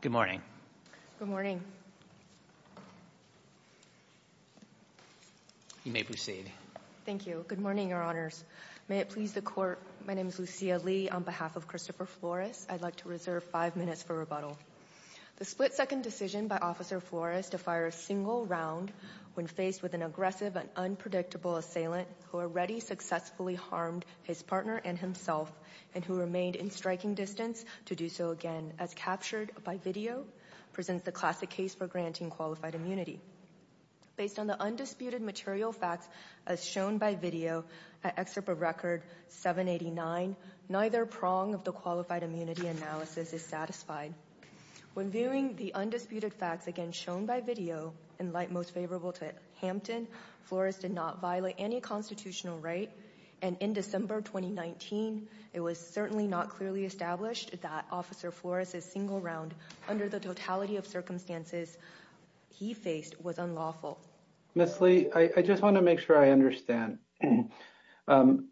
Good morning. Good morning. You may proceed. Thank you. Good morning, Your Honors. May it please the Court, my name is Lucia Lee. On behalf of Christopher Flores, I'd like to reserve five minutes for rebuttal. The split-second decision by Officer Flores to fire a single round when faced with an aggressive and unpredictable assailant who already successfully harmed his partner and himself and who remained in striking distance to do so again as captured by video presents the classic case for granting qualified immunity. Based on the undisputed material facts as shown by video at Excerpt of Record 789, neither prong of the qualified immunity analysis is satisfied. When viewing the undisputed facts again shown by video, in light most favorable to Hampton, Flores did not violate any constitutional right, and in December 2019, it was certainly not clearly established that Officer Flores' single round under the totality of circumstances he faced was unlawful. Ms. Lee, I just want to make sure I understand.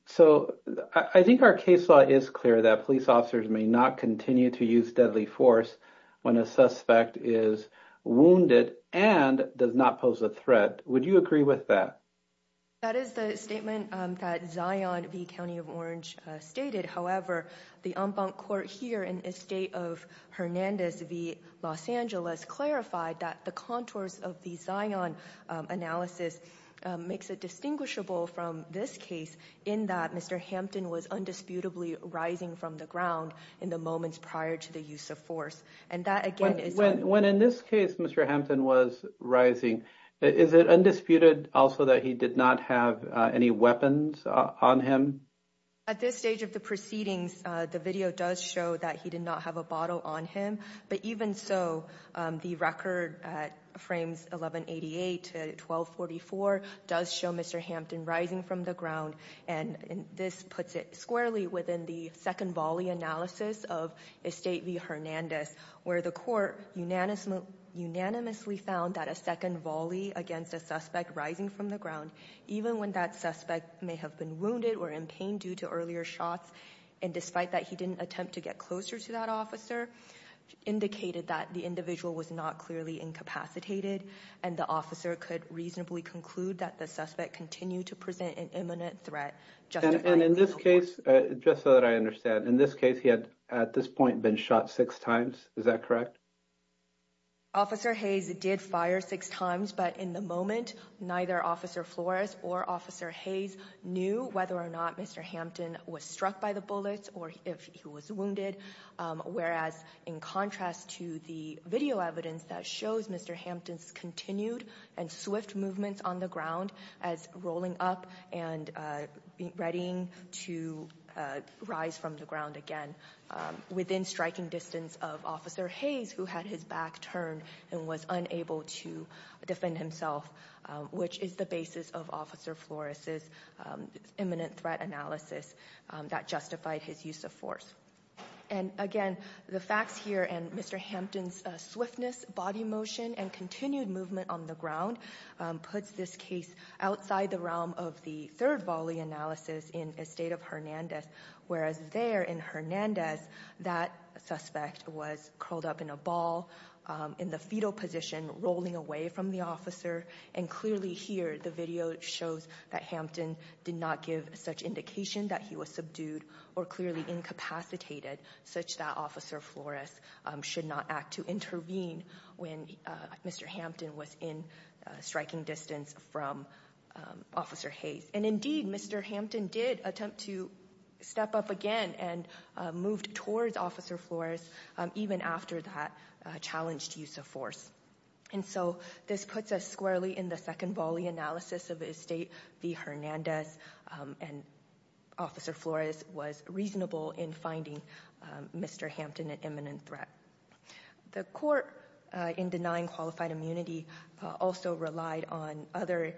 So I think our case law is clear that police officers may not continue to use deadly force when a suspect is wounded and does not pose a threat. Would you agree with that? That is the statement that Zion v. County of Orange stated. However, the en banc court here in the state of Hernandez v. Los Angeles clarified that the contours of the Zion analysis makes it distinguishable from this case in that Mr. Hampton was undisputably rising from the ground in the moments prior to the use of force. When in this case Mr. Hampton was rising, is it undisputed also that he did not have any weapons on him? At this stage of the proceedings, the video does show that he did not have a bottle on him, but even so, the record at frames 1188 to 1244 does show Mr. Hampton rising from the ground, and this puts it squarely within the second volley analysis of Estate v. Hernandez, where the court unanimously found that a second volley against a suspect rising from the ground, even when that suspect may have been wounded or in pain due to earlier shots, and despite that he didn't attempt to get closer to that officer, indicated that the individual was not clearly incapacitated, and the officer could reasonably conclude that the suspect continued to present an imminent threat justifying legal force. And in this case, just so that I understand, in this case he had at this point been shot six times, is that correct? Officer Hayes did fire six times, but in the moment, neither Officer Flores or Officer Hayes knew whether or not Mr. Hampton was struck by the bullets or if he was wounded, whereas in contrast to the video evidence that shows Mr. Hampton's continued and swift movements on the ground as rolling up and readying to rise from the ground again within striking distance of Officer Hayes, who had his back turned and was unable to defend himself, which is the basis of Officer Flores' imminent threat analysis that justified his use of force. And again, the facts here and Mr. Hampton's swiftness, body motion, and continued movement on the ground puts this case outside the realm of the third volley analysis in Estate of Hernandez, whereas there in Hernandez, that suspect was curled up in a ball in the fetal position, rolling away from the officer. And clearly here, the video shows that Hampton did not give such indication that he was subdued or clearly incapacitated such that Officer Flores should not act to intervene when Mr. Hampton was in striking distance from Officer Hayes. And indeed, Mr. Hampton did attempt to step up again and moved towards Officer Flores even after that challenged use of force. And so this puts us squarely in the second volley analysis of Estate v. Hernandez and Officer Flores was reasonable in finding Mr. Hampton an imminent threat. The court in denying qualified immunity also relied on other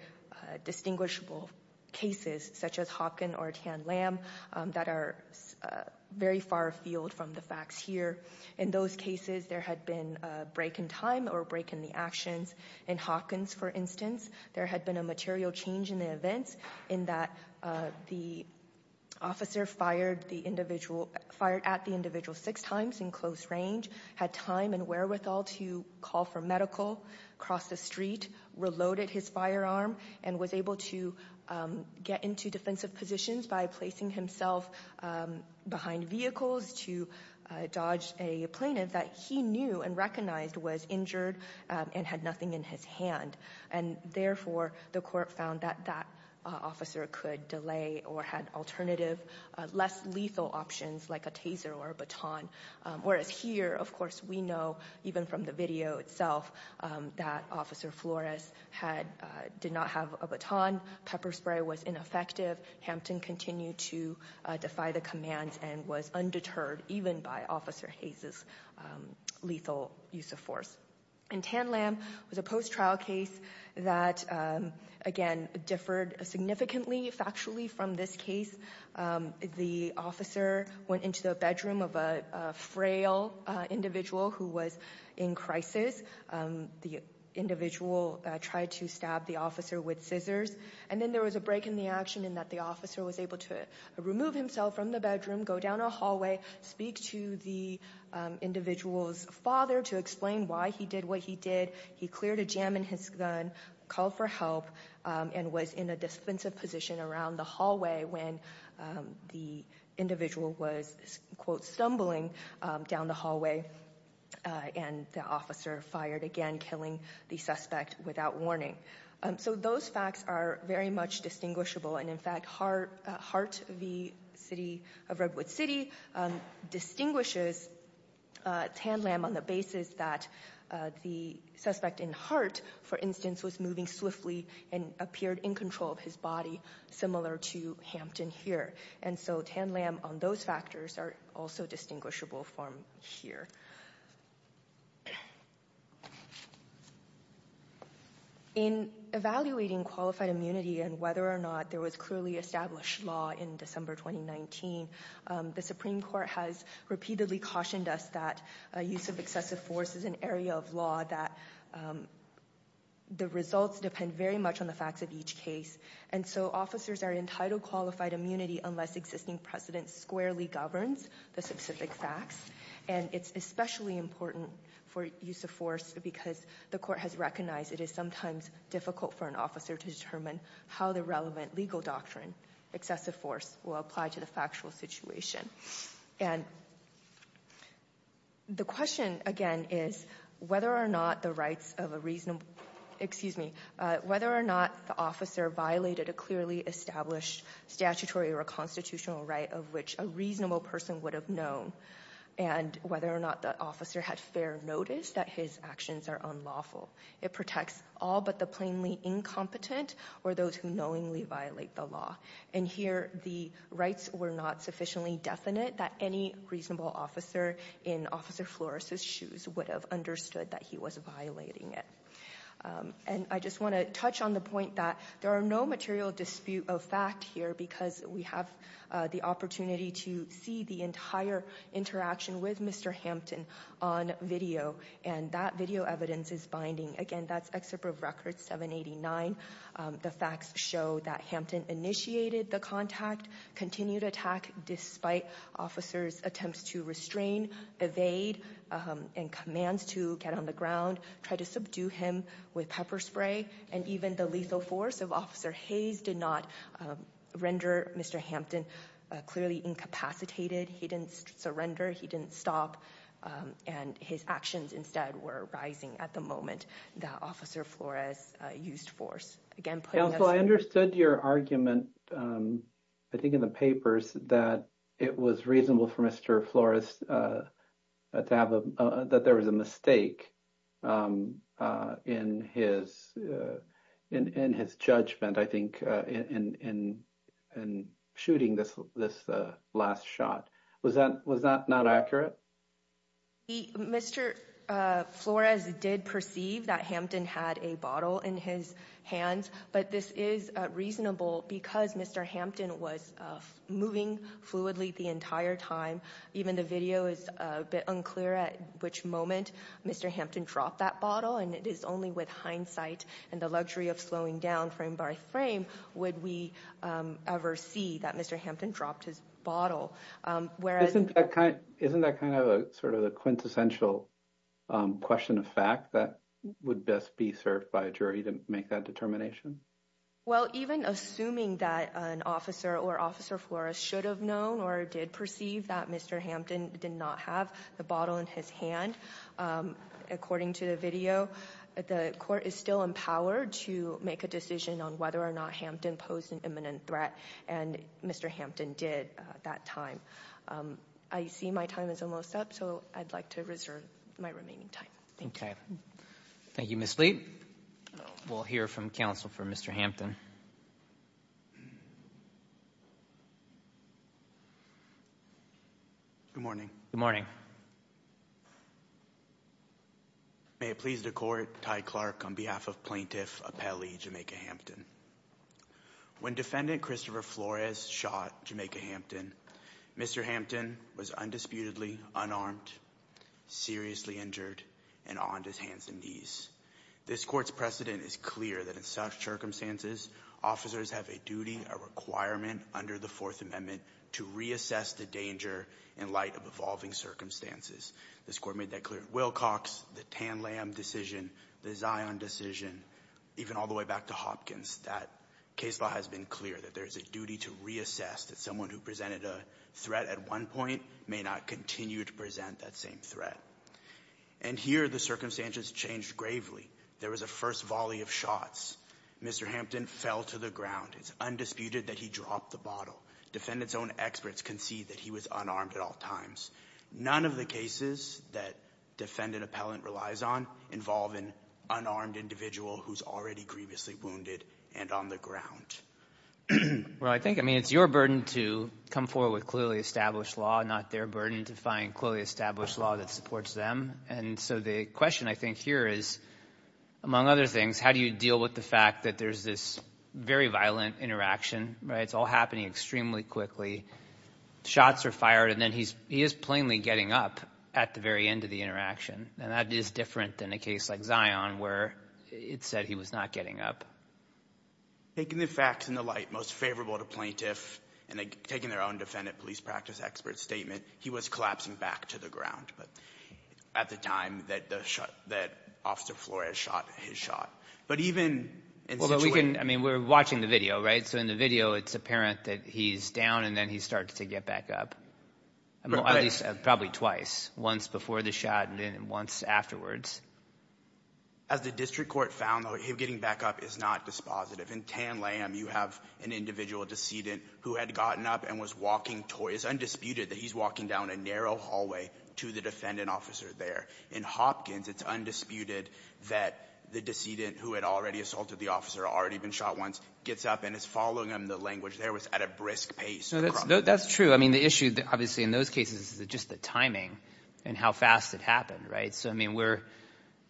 distinguishable cases such as Hopkins or Tan Lam that are very far afield from the facts here. In those cases, there had been a break in time or a break in the actions. In Hopkins, for instance, there had been a material change in the events in that the officer fired at the individual six times in close range, had time and wherewithal to call for medical, crossed the street, reloaded his firearm, and was able to get into defensive positions by placing himself behind vehicles to dodge a plaintiff that he knew and recognized was injured and had nothing in his hand. And therefore, the court found that that officer could delay or had alternative, less lethal options like a taser or a baton. Whereas here, of course, we know even from the video itself that Officer Flores did not have a baton, pepper spray was ineffective, Hampton continued to defy the commands and was undeterred even by Officer Hayes' lethal use of force. And Tan Lam was a post-trial case that, again, differed significantly factually from this case. The officer went into the bedroom of a frail individual who was in crisis. The individual tried to stab the officer with scissors. And then there was a break in the action in that the officer was able to remove himself from the bedroom, go down a hallway, speak to the individual's father to explain why he did what he did. He cleared a jam in his gun, called for help, and was in a defensive position around the hallway when the individual was, quote, stumbling down the hallway. And the officer fired, again, killing the suspect without warning. So those facts are very much distinguishable. And, in fact, Hart v. City of Redwood City distinguishes Tan Lam on the basis that the suspect in Hart, for instance, was moving swiftly and appeared in control of his body, similar to Hampton here. And so Tan Lam on those factors are also distinguishable from here. In evaluating qualified immunity and whether or not there was clearly established law in December 2019, the Supreme Court has repeatedly cautioned us that use of excessive force is an area of law, that the results depend very much on the facts of each case. And so officers are entitled to qualified immunity unless existing precedent squarely governs the specific facts. And it's especially important for use of force because the court has recognized it is sometimes difficult for an officer to determine how the relevant legal doctrine, excessive force, will apply to the factual situation. And the question, again, is whether or not the officer violated a clearly established statutory or constitutional right of which a reasonable person would have known, and whether or not the officer had fair notice that his actions are unlawful. It protects all but the plainly incompetent or those who knowingly violate the law. And here the rights were not sufficiently definite that any reasonable officer in Officer Flores's shoes would have understood that he was violating it. And I just want to touch on the point that there are no material dispute of fact here because we have the opportunity to see the entire interaction with Mr. Hampton on video. And that video evidence is binding. Again, that's Excerpt of Record 789. The facts show that Hampton initiated the contact, continued attack, despite officers' attempts to restrain, evade, and commands to get on the ground, tried to subdue him with pepper spray, and even the lethal force of Officer Hayes did not render Mr. Hampton clearly incapacitated. He didn't surrender. He didn't stop. And his actions instead were rising at the moment that Officer Flores used force. Counsel, I understood your argument, I think in the papers, that it was reasonable for Mr. Flores that there was a mistake in his judgment, I think, in shooting this last shot. Was that not accurate? Mr. Flores did perceive that Hampton had a bottle in his hands, but this is reasonable because Mr. Hampton was moving fluidly the entire time. Even the video is a bit unclear at which moment Mr. Hampton dropped that bottle, and it is only with hindsight and the luxury of slowing down frame by frame would we ever see that Mr. Hampton dropped his bottle. Isn't that kind of sort of a quintessential question of fact that would best be served by a jury to make that determination? Well, even assuming that an officer or Officer Flores should have known or did perceive that Mr. Hampton did not have the bottle in his hand, according to the video, the court is still empowered to make a decision on whether or not Hampton posed an imminent threat, and Mr. Hampton did at that time. I see my time is almost up, so I'd like to reserve my remaining time. Okay. Thank you, Ms. Lee. We'll hear from counsel for Mr. Hampton. Good morning. Good morning. May it please the Court, Ty Clark on behalf of Plaintiff Apelli, Jamaica Hampton. When Defendant Christopher Flores shot Jamaica Hampton, Mr. Hampton was undisputedly unarmed, seriously injured, and on his hands and knees. This Court's precedent is clear that in such circumstances, officers have a duty, a requirement under the Fourth Amendment to reassess the danger in light of evolving circumstances. This Court made that clear at Wilcox, the Tanlam decision, the Zion decision, even all the way back to Hopkins, that case law has been clear that there is a duty to reassess that someone who presented a threat at one point may not continue to present that same threat. And here, the circumstances changed gravely. There was a first volley of shots. Mr. Hampton fell to the ground. It's undisputed that he dropped the bottle. Defendants' own experts concede that he was unarmed at all times. None of the cases that Defendant Appellant relies on involve an unarmed individual who's already grievously wounded and on the ground. Well, I think, I mean, it's your burden to come forward with clearly established law, not their burden to find clearly established law that supports them. And so the question, I think, here is, among other things, how do you deal with the fact that there's this very violent interaction, right? It's all happening extremely quickly. Shots are fired, and then he is plainly getting up at the very end of the interaction. And that is different than a case like Zion where it said he was not getting up. Taking the facts into light, most favorable to plaintiff, and taking their own defendant police practice expert statement, he was collapsing back to the ground at the time that Officer Flores shot his shot. But even in the situation— Well, but we can, I mean, we're watching the video, right? So in the video, it's apparent that he's down and then he starts to get back up. At least probably twice, once before the shot and then once afterwards. As the district court found, though, him getting back up is not dispositive. In Tan Lamb, you have an individual decedent who had gotten up and was walking— it's undisputed that he's walking down a narrow hallway to the defendant officer there. In Hopkins, it's undisputed that the decedent who had already assaulted the officer, already been shot once, gets up and is following him. The language there was at a brisk pace. That's true. I mean, the issue, obviously, in those cases is just the timing and how fast it happened, right? So, I mean, we're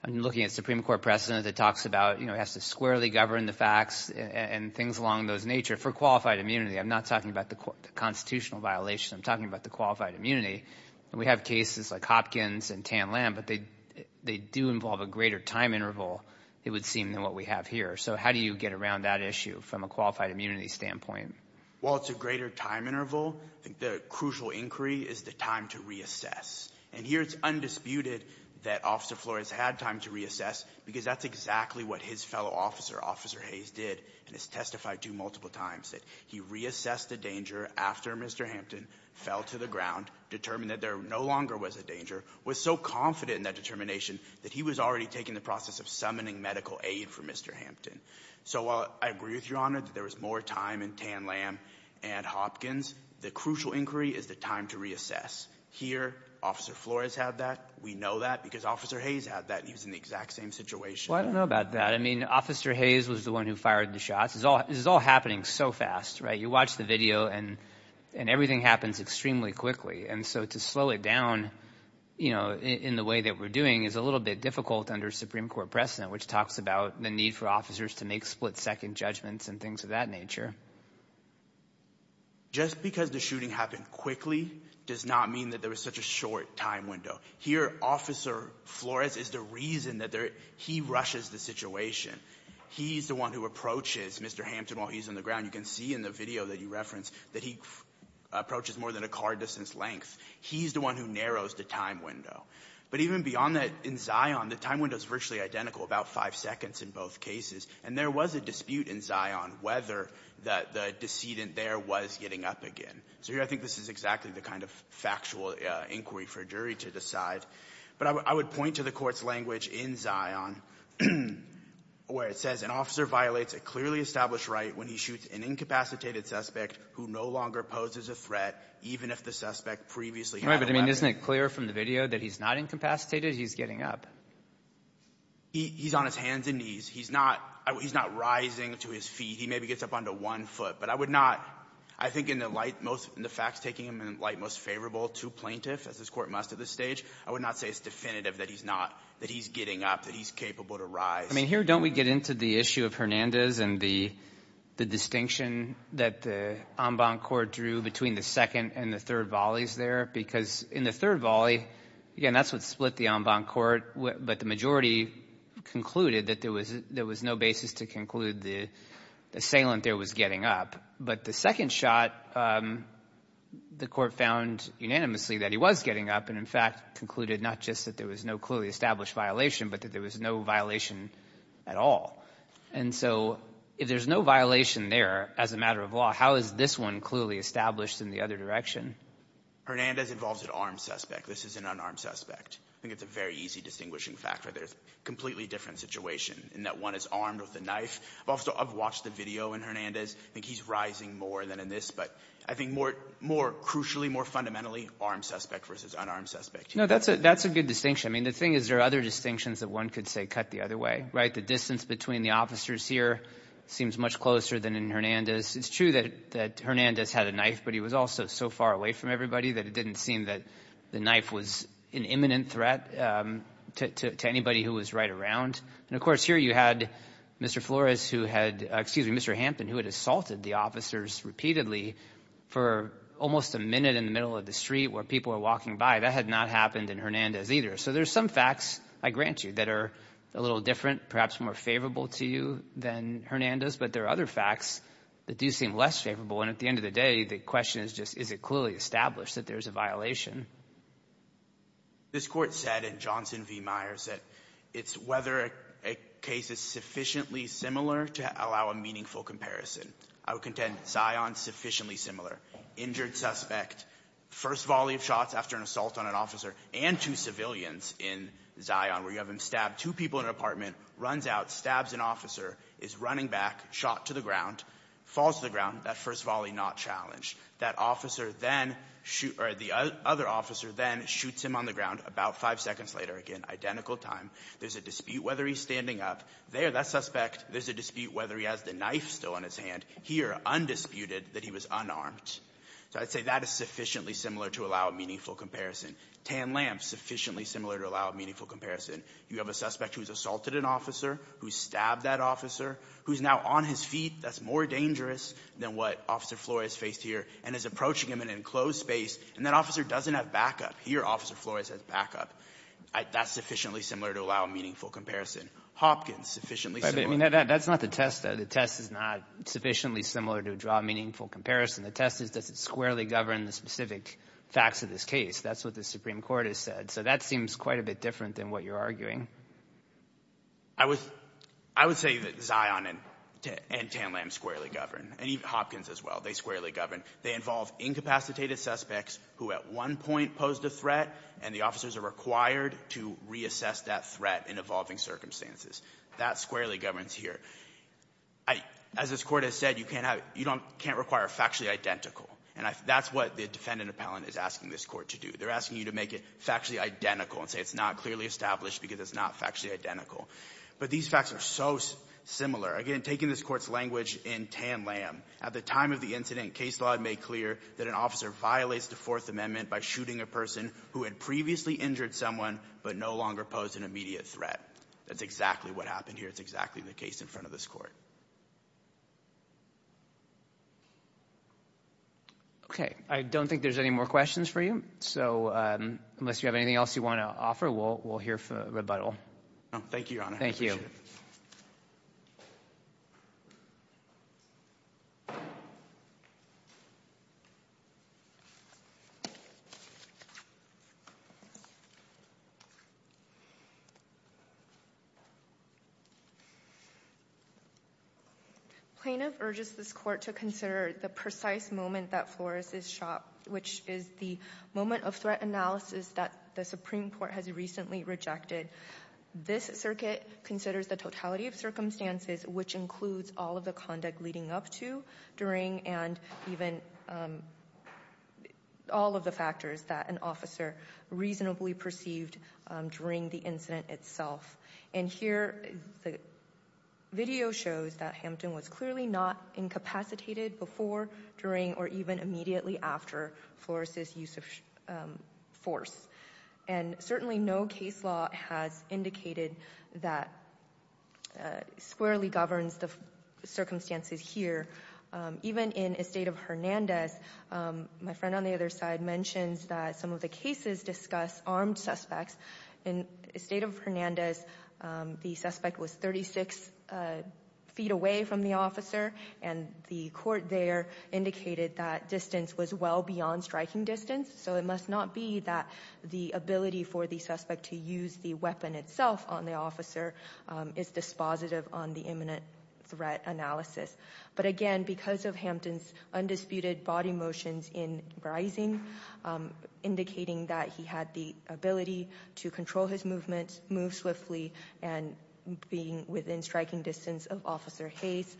looking at Supreme Court precedent that talks about, you know, has to squarely govern the facts and things along those nature for qualified immunity. I'm not talking about the constitutional violation. I'm talking about the qualified immunity. We have cases like Hopkins and Tan Lamb, but they do involve a greater time interval, it would seem, than what we have here. So how do you get around that issue from a qualified immunity standpoint? Well, it's a greater time interval. The crucial inquiry is the time to reassess. And here it's undisputed that Officer Flores had time to reassess because that's exactly what his fellow officer, Officer Hayes, did and has testified to multiple times, that he reassessed the danger after Mr. Hampton fell to the ground, determined that there no longer was a danger, was so confident in that determination that he was already taking the process of summoning medical aid for Mr. Hampton. So while I agree with Your Honor that there was more time in Tan Lamb and Hopkins, the crucial inquiry is the time to reassess. Here, Officer Flores had that. We know that because Officer Hayes had that. He was in the exact same situation. Well, I don't know about that. I mean, Officer Hayes was the one who fired the shots. This is all happening so fast, right? You watch the video and everything happens extremely quickly. And so to slow it down in the way that we're doing is a little bit difficult under Supreme Court precedent, which talks about the need for officers to make split-second judgments and things of that nature. Just because the shooting happened quickly does not mean that there was such a short time window. Here, Officer Flores is the reason that he rushes the situation. He's the one who approaches Mr. Hampton while he's on the ground. You can see in the video that you referenced that he approaches more than a car-distance length. He's the one who narrows the time window. But even beyond that, in Zion, the time window is virtually identical, about five seconds in both cases. And there was a dispute in Zion whether the decedent there was getting up again. So here I think this is exactly the kind of factual inquiry for a jury to decide. But I would point to the Court's language in Zion where it says, an officer violates a clearly established right when he shoots an incapacitated suspect who no longer poses a threat, even if the suspect previously had a weapon. But, I mean, isn't it clear from the video that he's not incapacitated? He's getting up. He's on his hands and knees. He's not rising to his feet. He maybe gets up onto one foot. But I would not, I think in the light most, in the facts taking him in the light most favorable to plaintiffs, as this Court must at this stage, I would not say it's definitive that he's not, that he's getting up, that he's capable to rise. I mean, here don't we get into the issue of Hernandez and the distinction that the en banc court drew between the second and the third volleys there? Because in the third volley, again, that's what split the en banc court. But the majority concluded that there was no basis to conclude the assailant there was getting up. But the second shot, the Court found unanimously that he was getting up and, in fact, concluded not just that there was no clearly established violation, but that there was no violation at all. And so if there's no violation there as a matter of law, how is this one clearly established in the other direction? Hernandez involves an armed suspect. This is an unarmed suspect. I think it's a very easy distinguishing factor. There's a completely different situation in that one is armed with a knife. I've watched the video in Hernandez. I think he's rising more than in this. But I think more crucially, more fundamentally, armed suspect versus unarmed suspect. No, that's a good distinction. I mean, the thing is there are other distinctions that one could say cut the other way, right? The distance between the officers here seems much closer than in Hernandez. It's true that Hernandez had a knife, but he was also so far away from everybody that it didn't seem that the knife was an imminent threat to anybody who was right around. And, of course, here you had Mr. Flores who had, excuse me, Mr. Hampton, who had assaulted the officers repeatedly for almost a minute in the middle of the street where people were walking by. That had not happened in Hernandez either. So there's some facts, I grant you, that are a little different, perhaps more favorable to you than Hernandez. But there are other facts that do seem less favorable. And at the end of the day, the question is just is it clearly established that there's a violation? This Court said in Johnson v. Myers that it's whether a case is sufficiently similar to allow a meaningful comparison. I would contend scion sufficiently similar. Injured suspect, first volley of shots after an assault on an officer, and two civilians in Zion where you have him stab two people in an apartment, runs out, stabs an officer, is running back, shot to the ground, falls to the ground, that first volley not challenged. That officer then shoots or the other officer then shoots him on the ground about five seconds later. Again, identical time. There's a dispute whether he's standing up. There, that suspect, there's a dispute whether he has the knife still in his hand. Here, undisputed, that he was unarmed. So I'd say that is sufficiently similar to allow a meaningful comparison. Tan lamp, sufficiently similar to allow a meaningful comparison. You have a suspect who's assaulted an officer, who's stabbed that officer, who's now on his feet, that's more dangerous than what Officer Flores faced here, and is approaching him in an enclosed space, and that officer doesn't have backup. Here, Officer Flores has backup. That's sufficiently similar to allow a meaningful comparison. Hopkins, sufficiently similar. That's not the test, though. The test is not sufficiently similar to draw a meaningful comparison. The test is does it squarely govern the specific facts of this case. That's what the Supreme Court has said. So that seems quite a bit different than what you're arguing. I would say that Zion and Tan lamp squarely govern, and Hopkins as well. They squarely govern. They involve incapacitated suspects who at one point posed a threat, and the officers are required to reassess that threat in evolving circumstances. That squarely governs here. As this Court has said, you can't have you don't can't require factually identical, and that's what the defendant appellant is asking this Court to do. They're asking you to make it factually identical and say it's not clearly established because it's not factually identical. But these facts are so similar. Again, taking this Court's language in Tan lamp, at the time of the incident, case law had made clear that an officer violates the Fourth Amendment by shooting a person who had previously injured someone but no longer posed an immediate threat. That's exactly what happened here. It's exactly the case in front of this Court. Okay. I don't think there's any more questions for you. So unless you have anything else you want to offer, we'll hear rebuttal. Thank you, Your Honor. I appreciate it. Thank you. Plaintiff urges this Court to consider the precise moment that Flores is shot, which is the moment of threat analysis that the Supreme Court has recently rejected. This circuit considers the totality of circumstances, which includes all of the conduct leading up to, during, and even all of the factors that an officer reasonably perceived during the incident itself. And here, the video shows that Hampton was clearly not incapacitated before, during, or even immediately after Flores' use of force. And certainly no case law has indicated that squarely governs the circumstances here. Even in Estate of Hernandez, my friend on the other side mentions that some of the the suspect was 36 feet away from the officer, and the Court there indicated that distance was well beyond striking distance. So it must not be that the ability for the suspect to use the weapon itself on the officer is dispositive on the imminent threat analysis. But again, because of Hampton's undisputed body motions in rising, indicating that he had the ability to control his movement, move swiftly, and being within striking distance of Officer Hayes,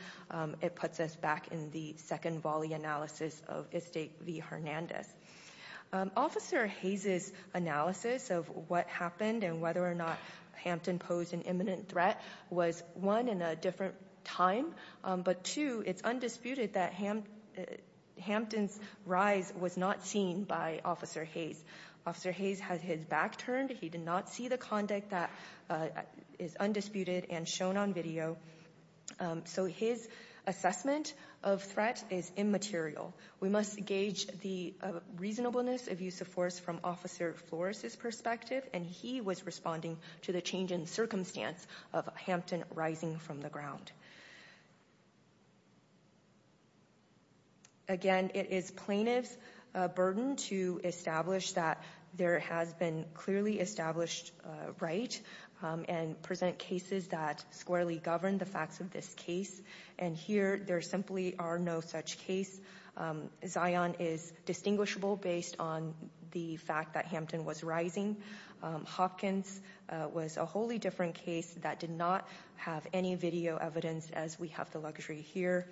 it puts us back in the second volley analysis of Estate v. Hernandez. Officer Hayes' analysis of what happened and whether or not Hampton posed an imminent threat was, one, in a different time. But two, it's undisputed that Hampton's rise was not seen by Officer Hayes. Officer Hayes had his back turned. He did not see the conduct that is undisputed and shown on video. So his assessment of threat is immaterial. We must gauge the reasonableness of use of force from Officer Flores' perspective, and he was responding to the change in circumstance of Hampton rising from the ground. Again, it is plaintiff's burden to establish that there has been clearly established right and present cases that squarely govern the facts of this case. And here, there simply are no such case. Zion is distinguishable based on the fact that Hampton was rising. Hopkins was a wholly different case that did not have any video evidence, as we have the luxury here.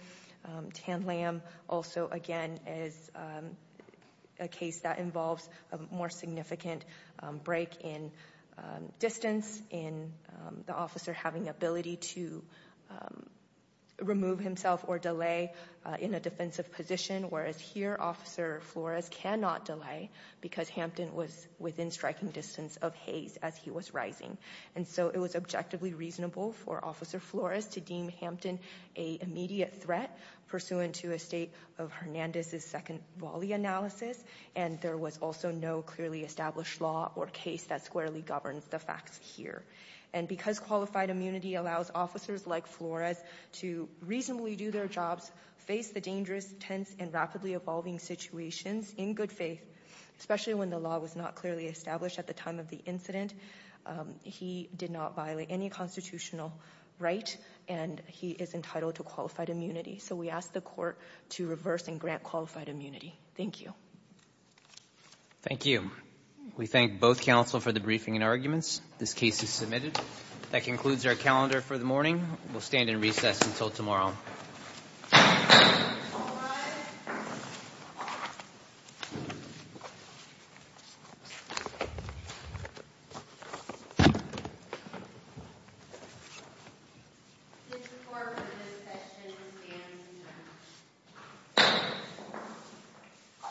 Tanlam also, again, is a case that involves a more significant break in distance, in the officer having ability to remove himself or delay in a defensive position, whereas here, Officer Flores cannot delay because Hampton was within striking distance of Hayes as he was rising. And so it was objectively reasonable for Officer Flores to deem Hampton a immediate threat, pursuant to a state of Hernandez's second volley analysis, and there was also no clearly established law or case that squarely governs the facts here. And because qualified immunity allows officers like Flores to reasonably do their jobs, face the dangerous, tense, and rapidly evolving situations in good faith, especially when the law was not clearly established at the time of the incident, he did not violate any constitutional right, and he is entitled to qualified immunity. So we ask the court to reverse and grant qualified immunity. Thank you. Thank you. We thank both counsel for the briefing and arguments. This case is submitted. That concludes our calendar for the morning. We'll stand in recess until tomorrow. All rise. This report for this session stands adjourned.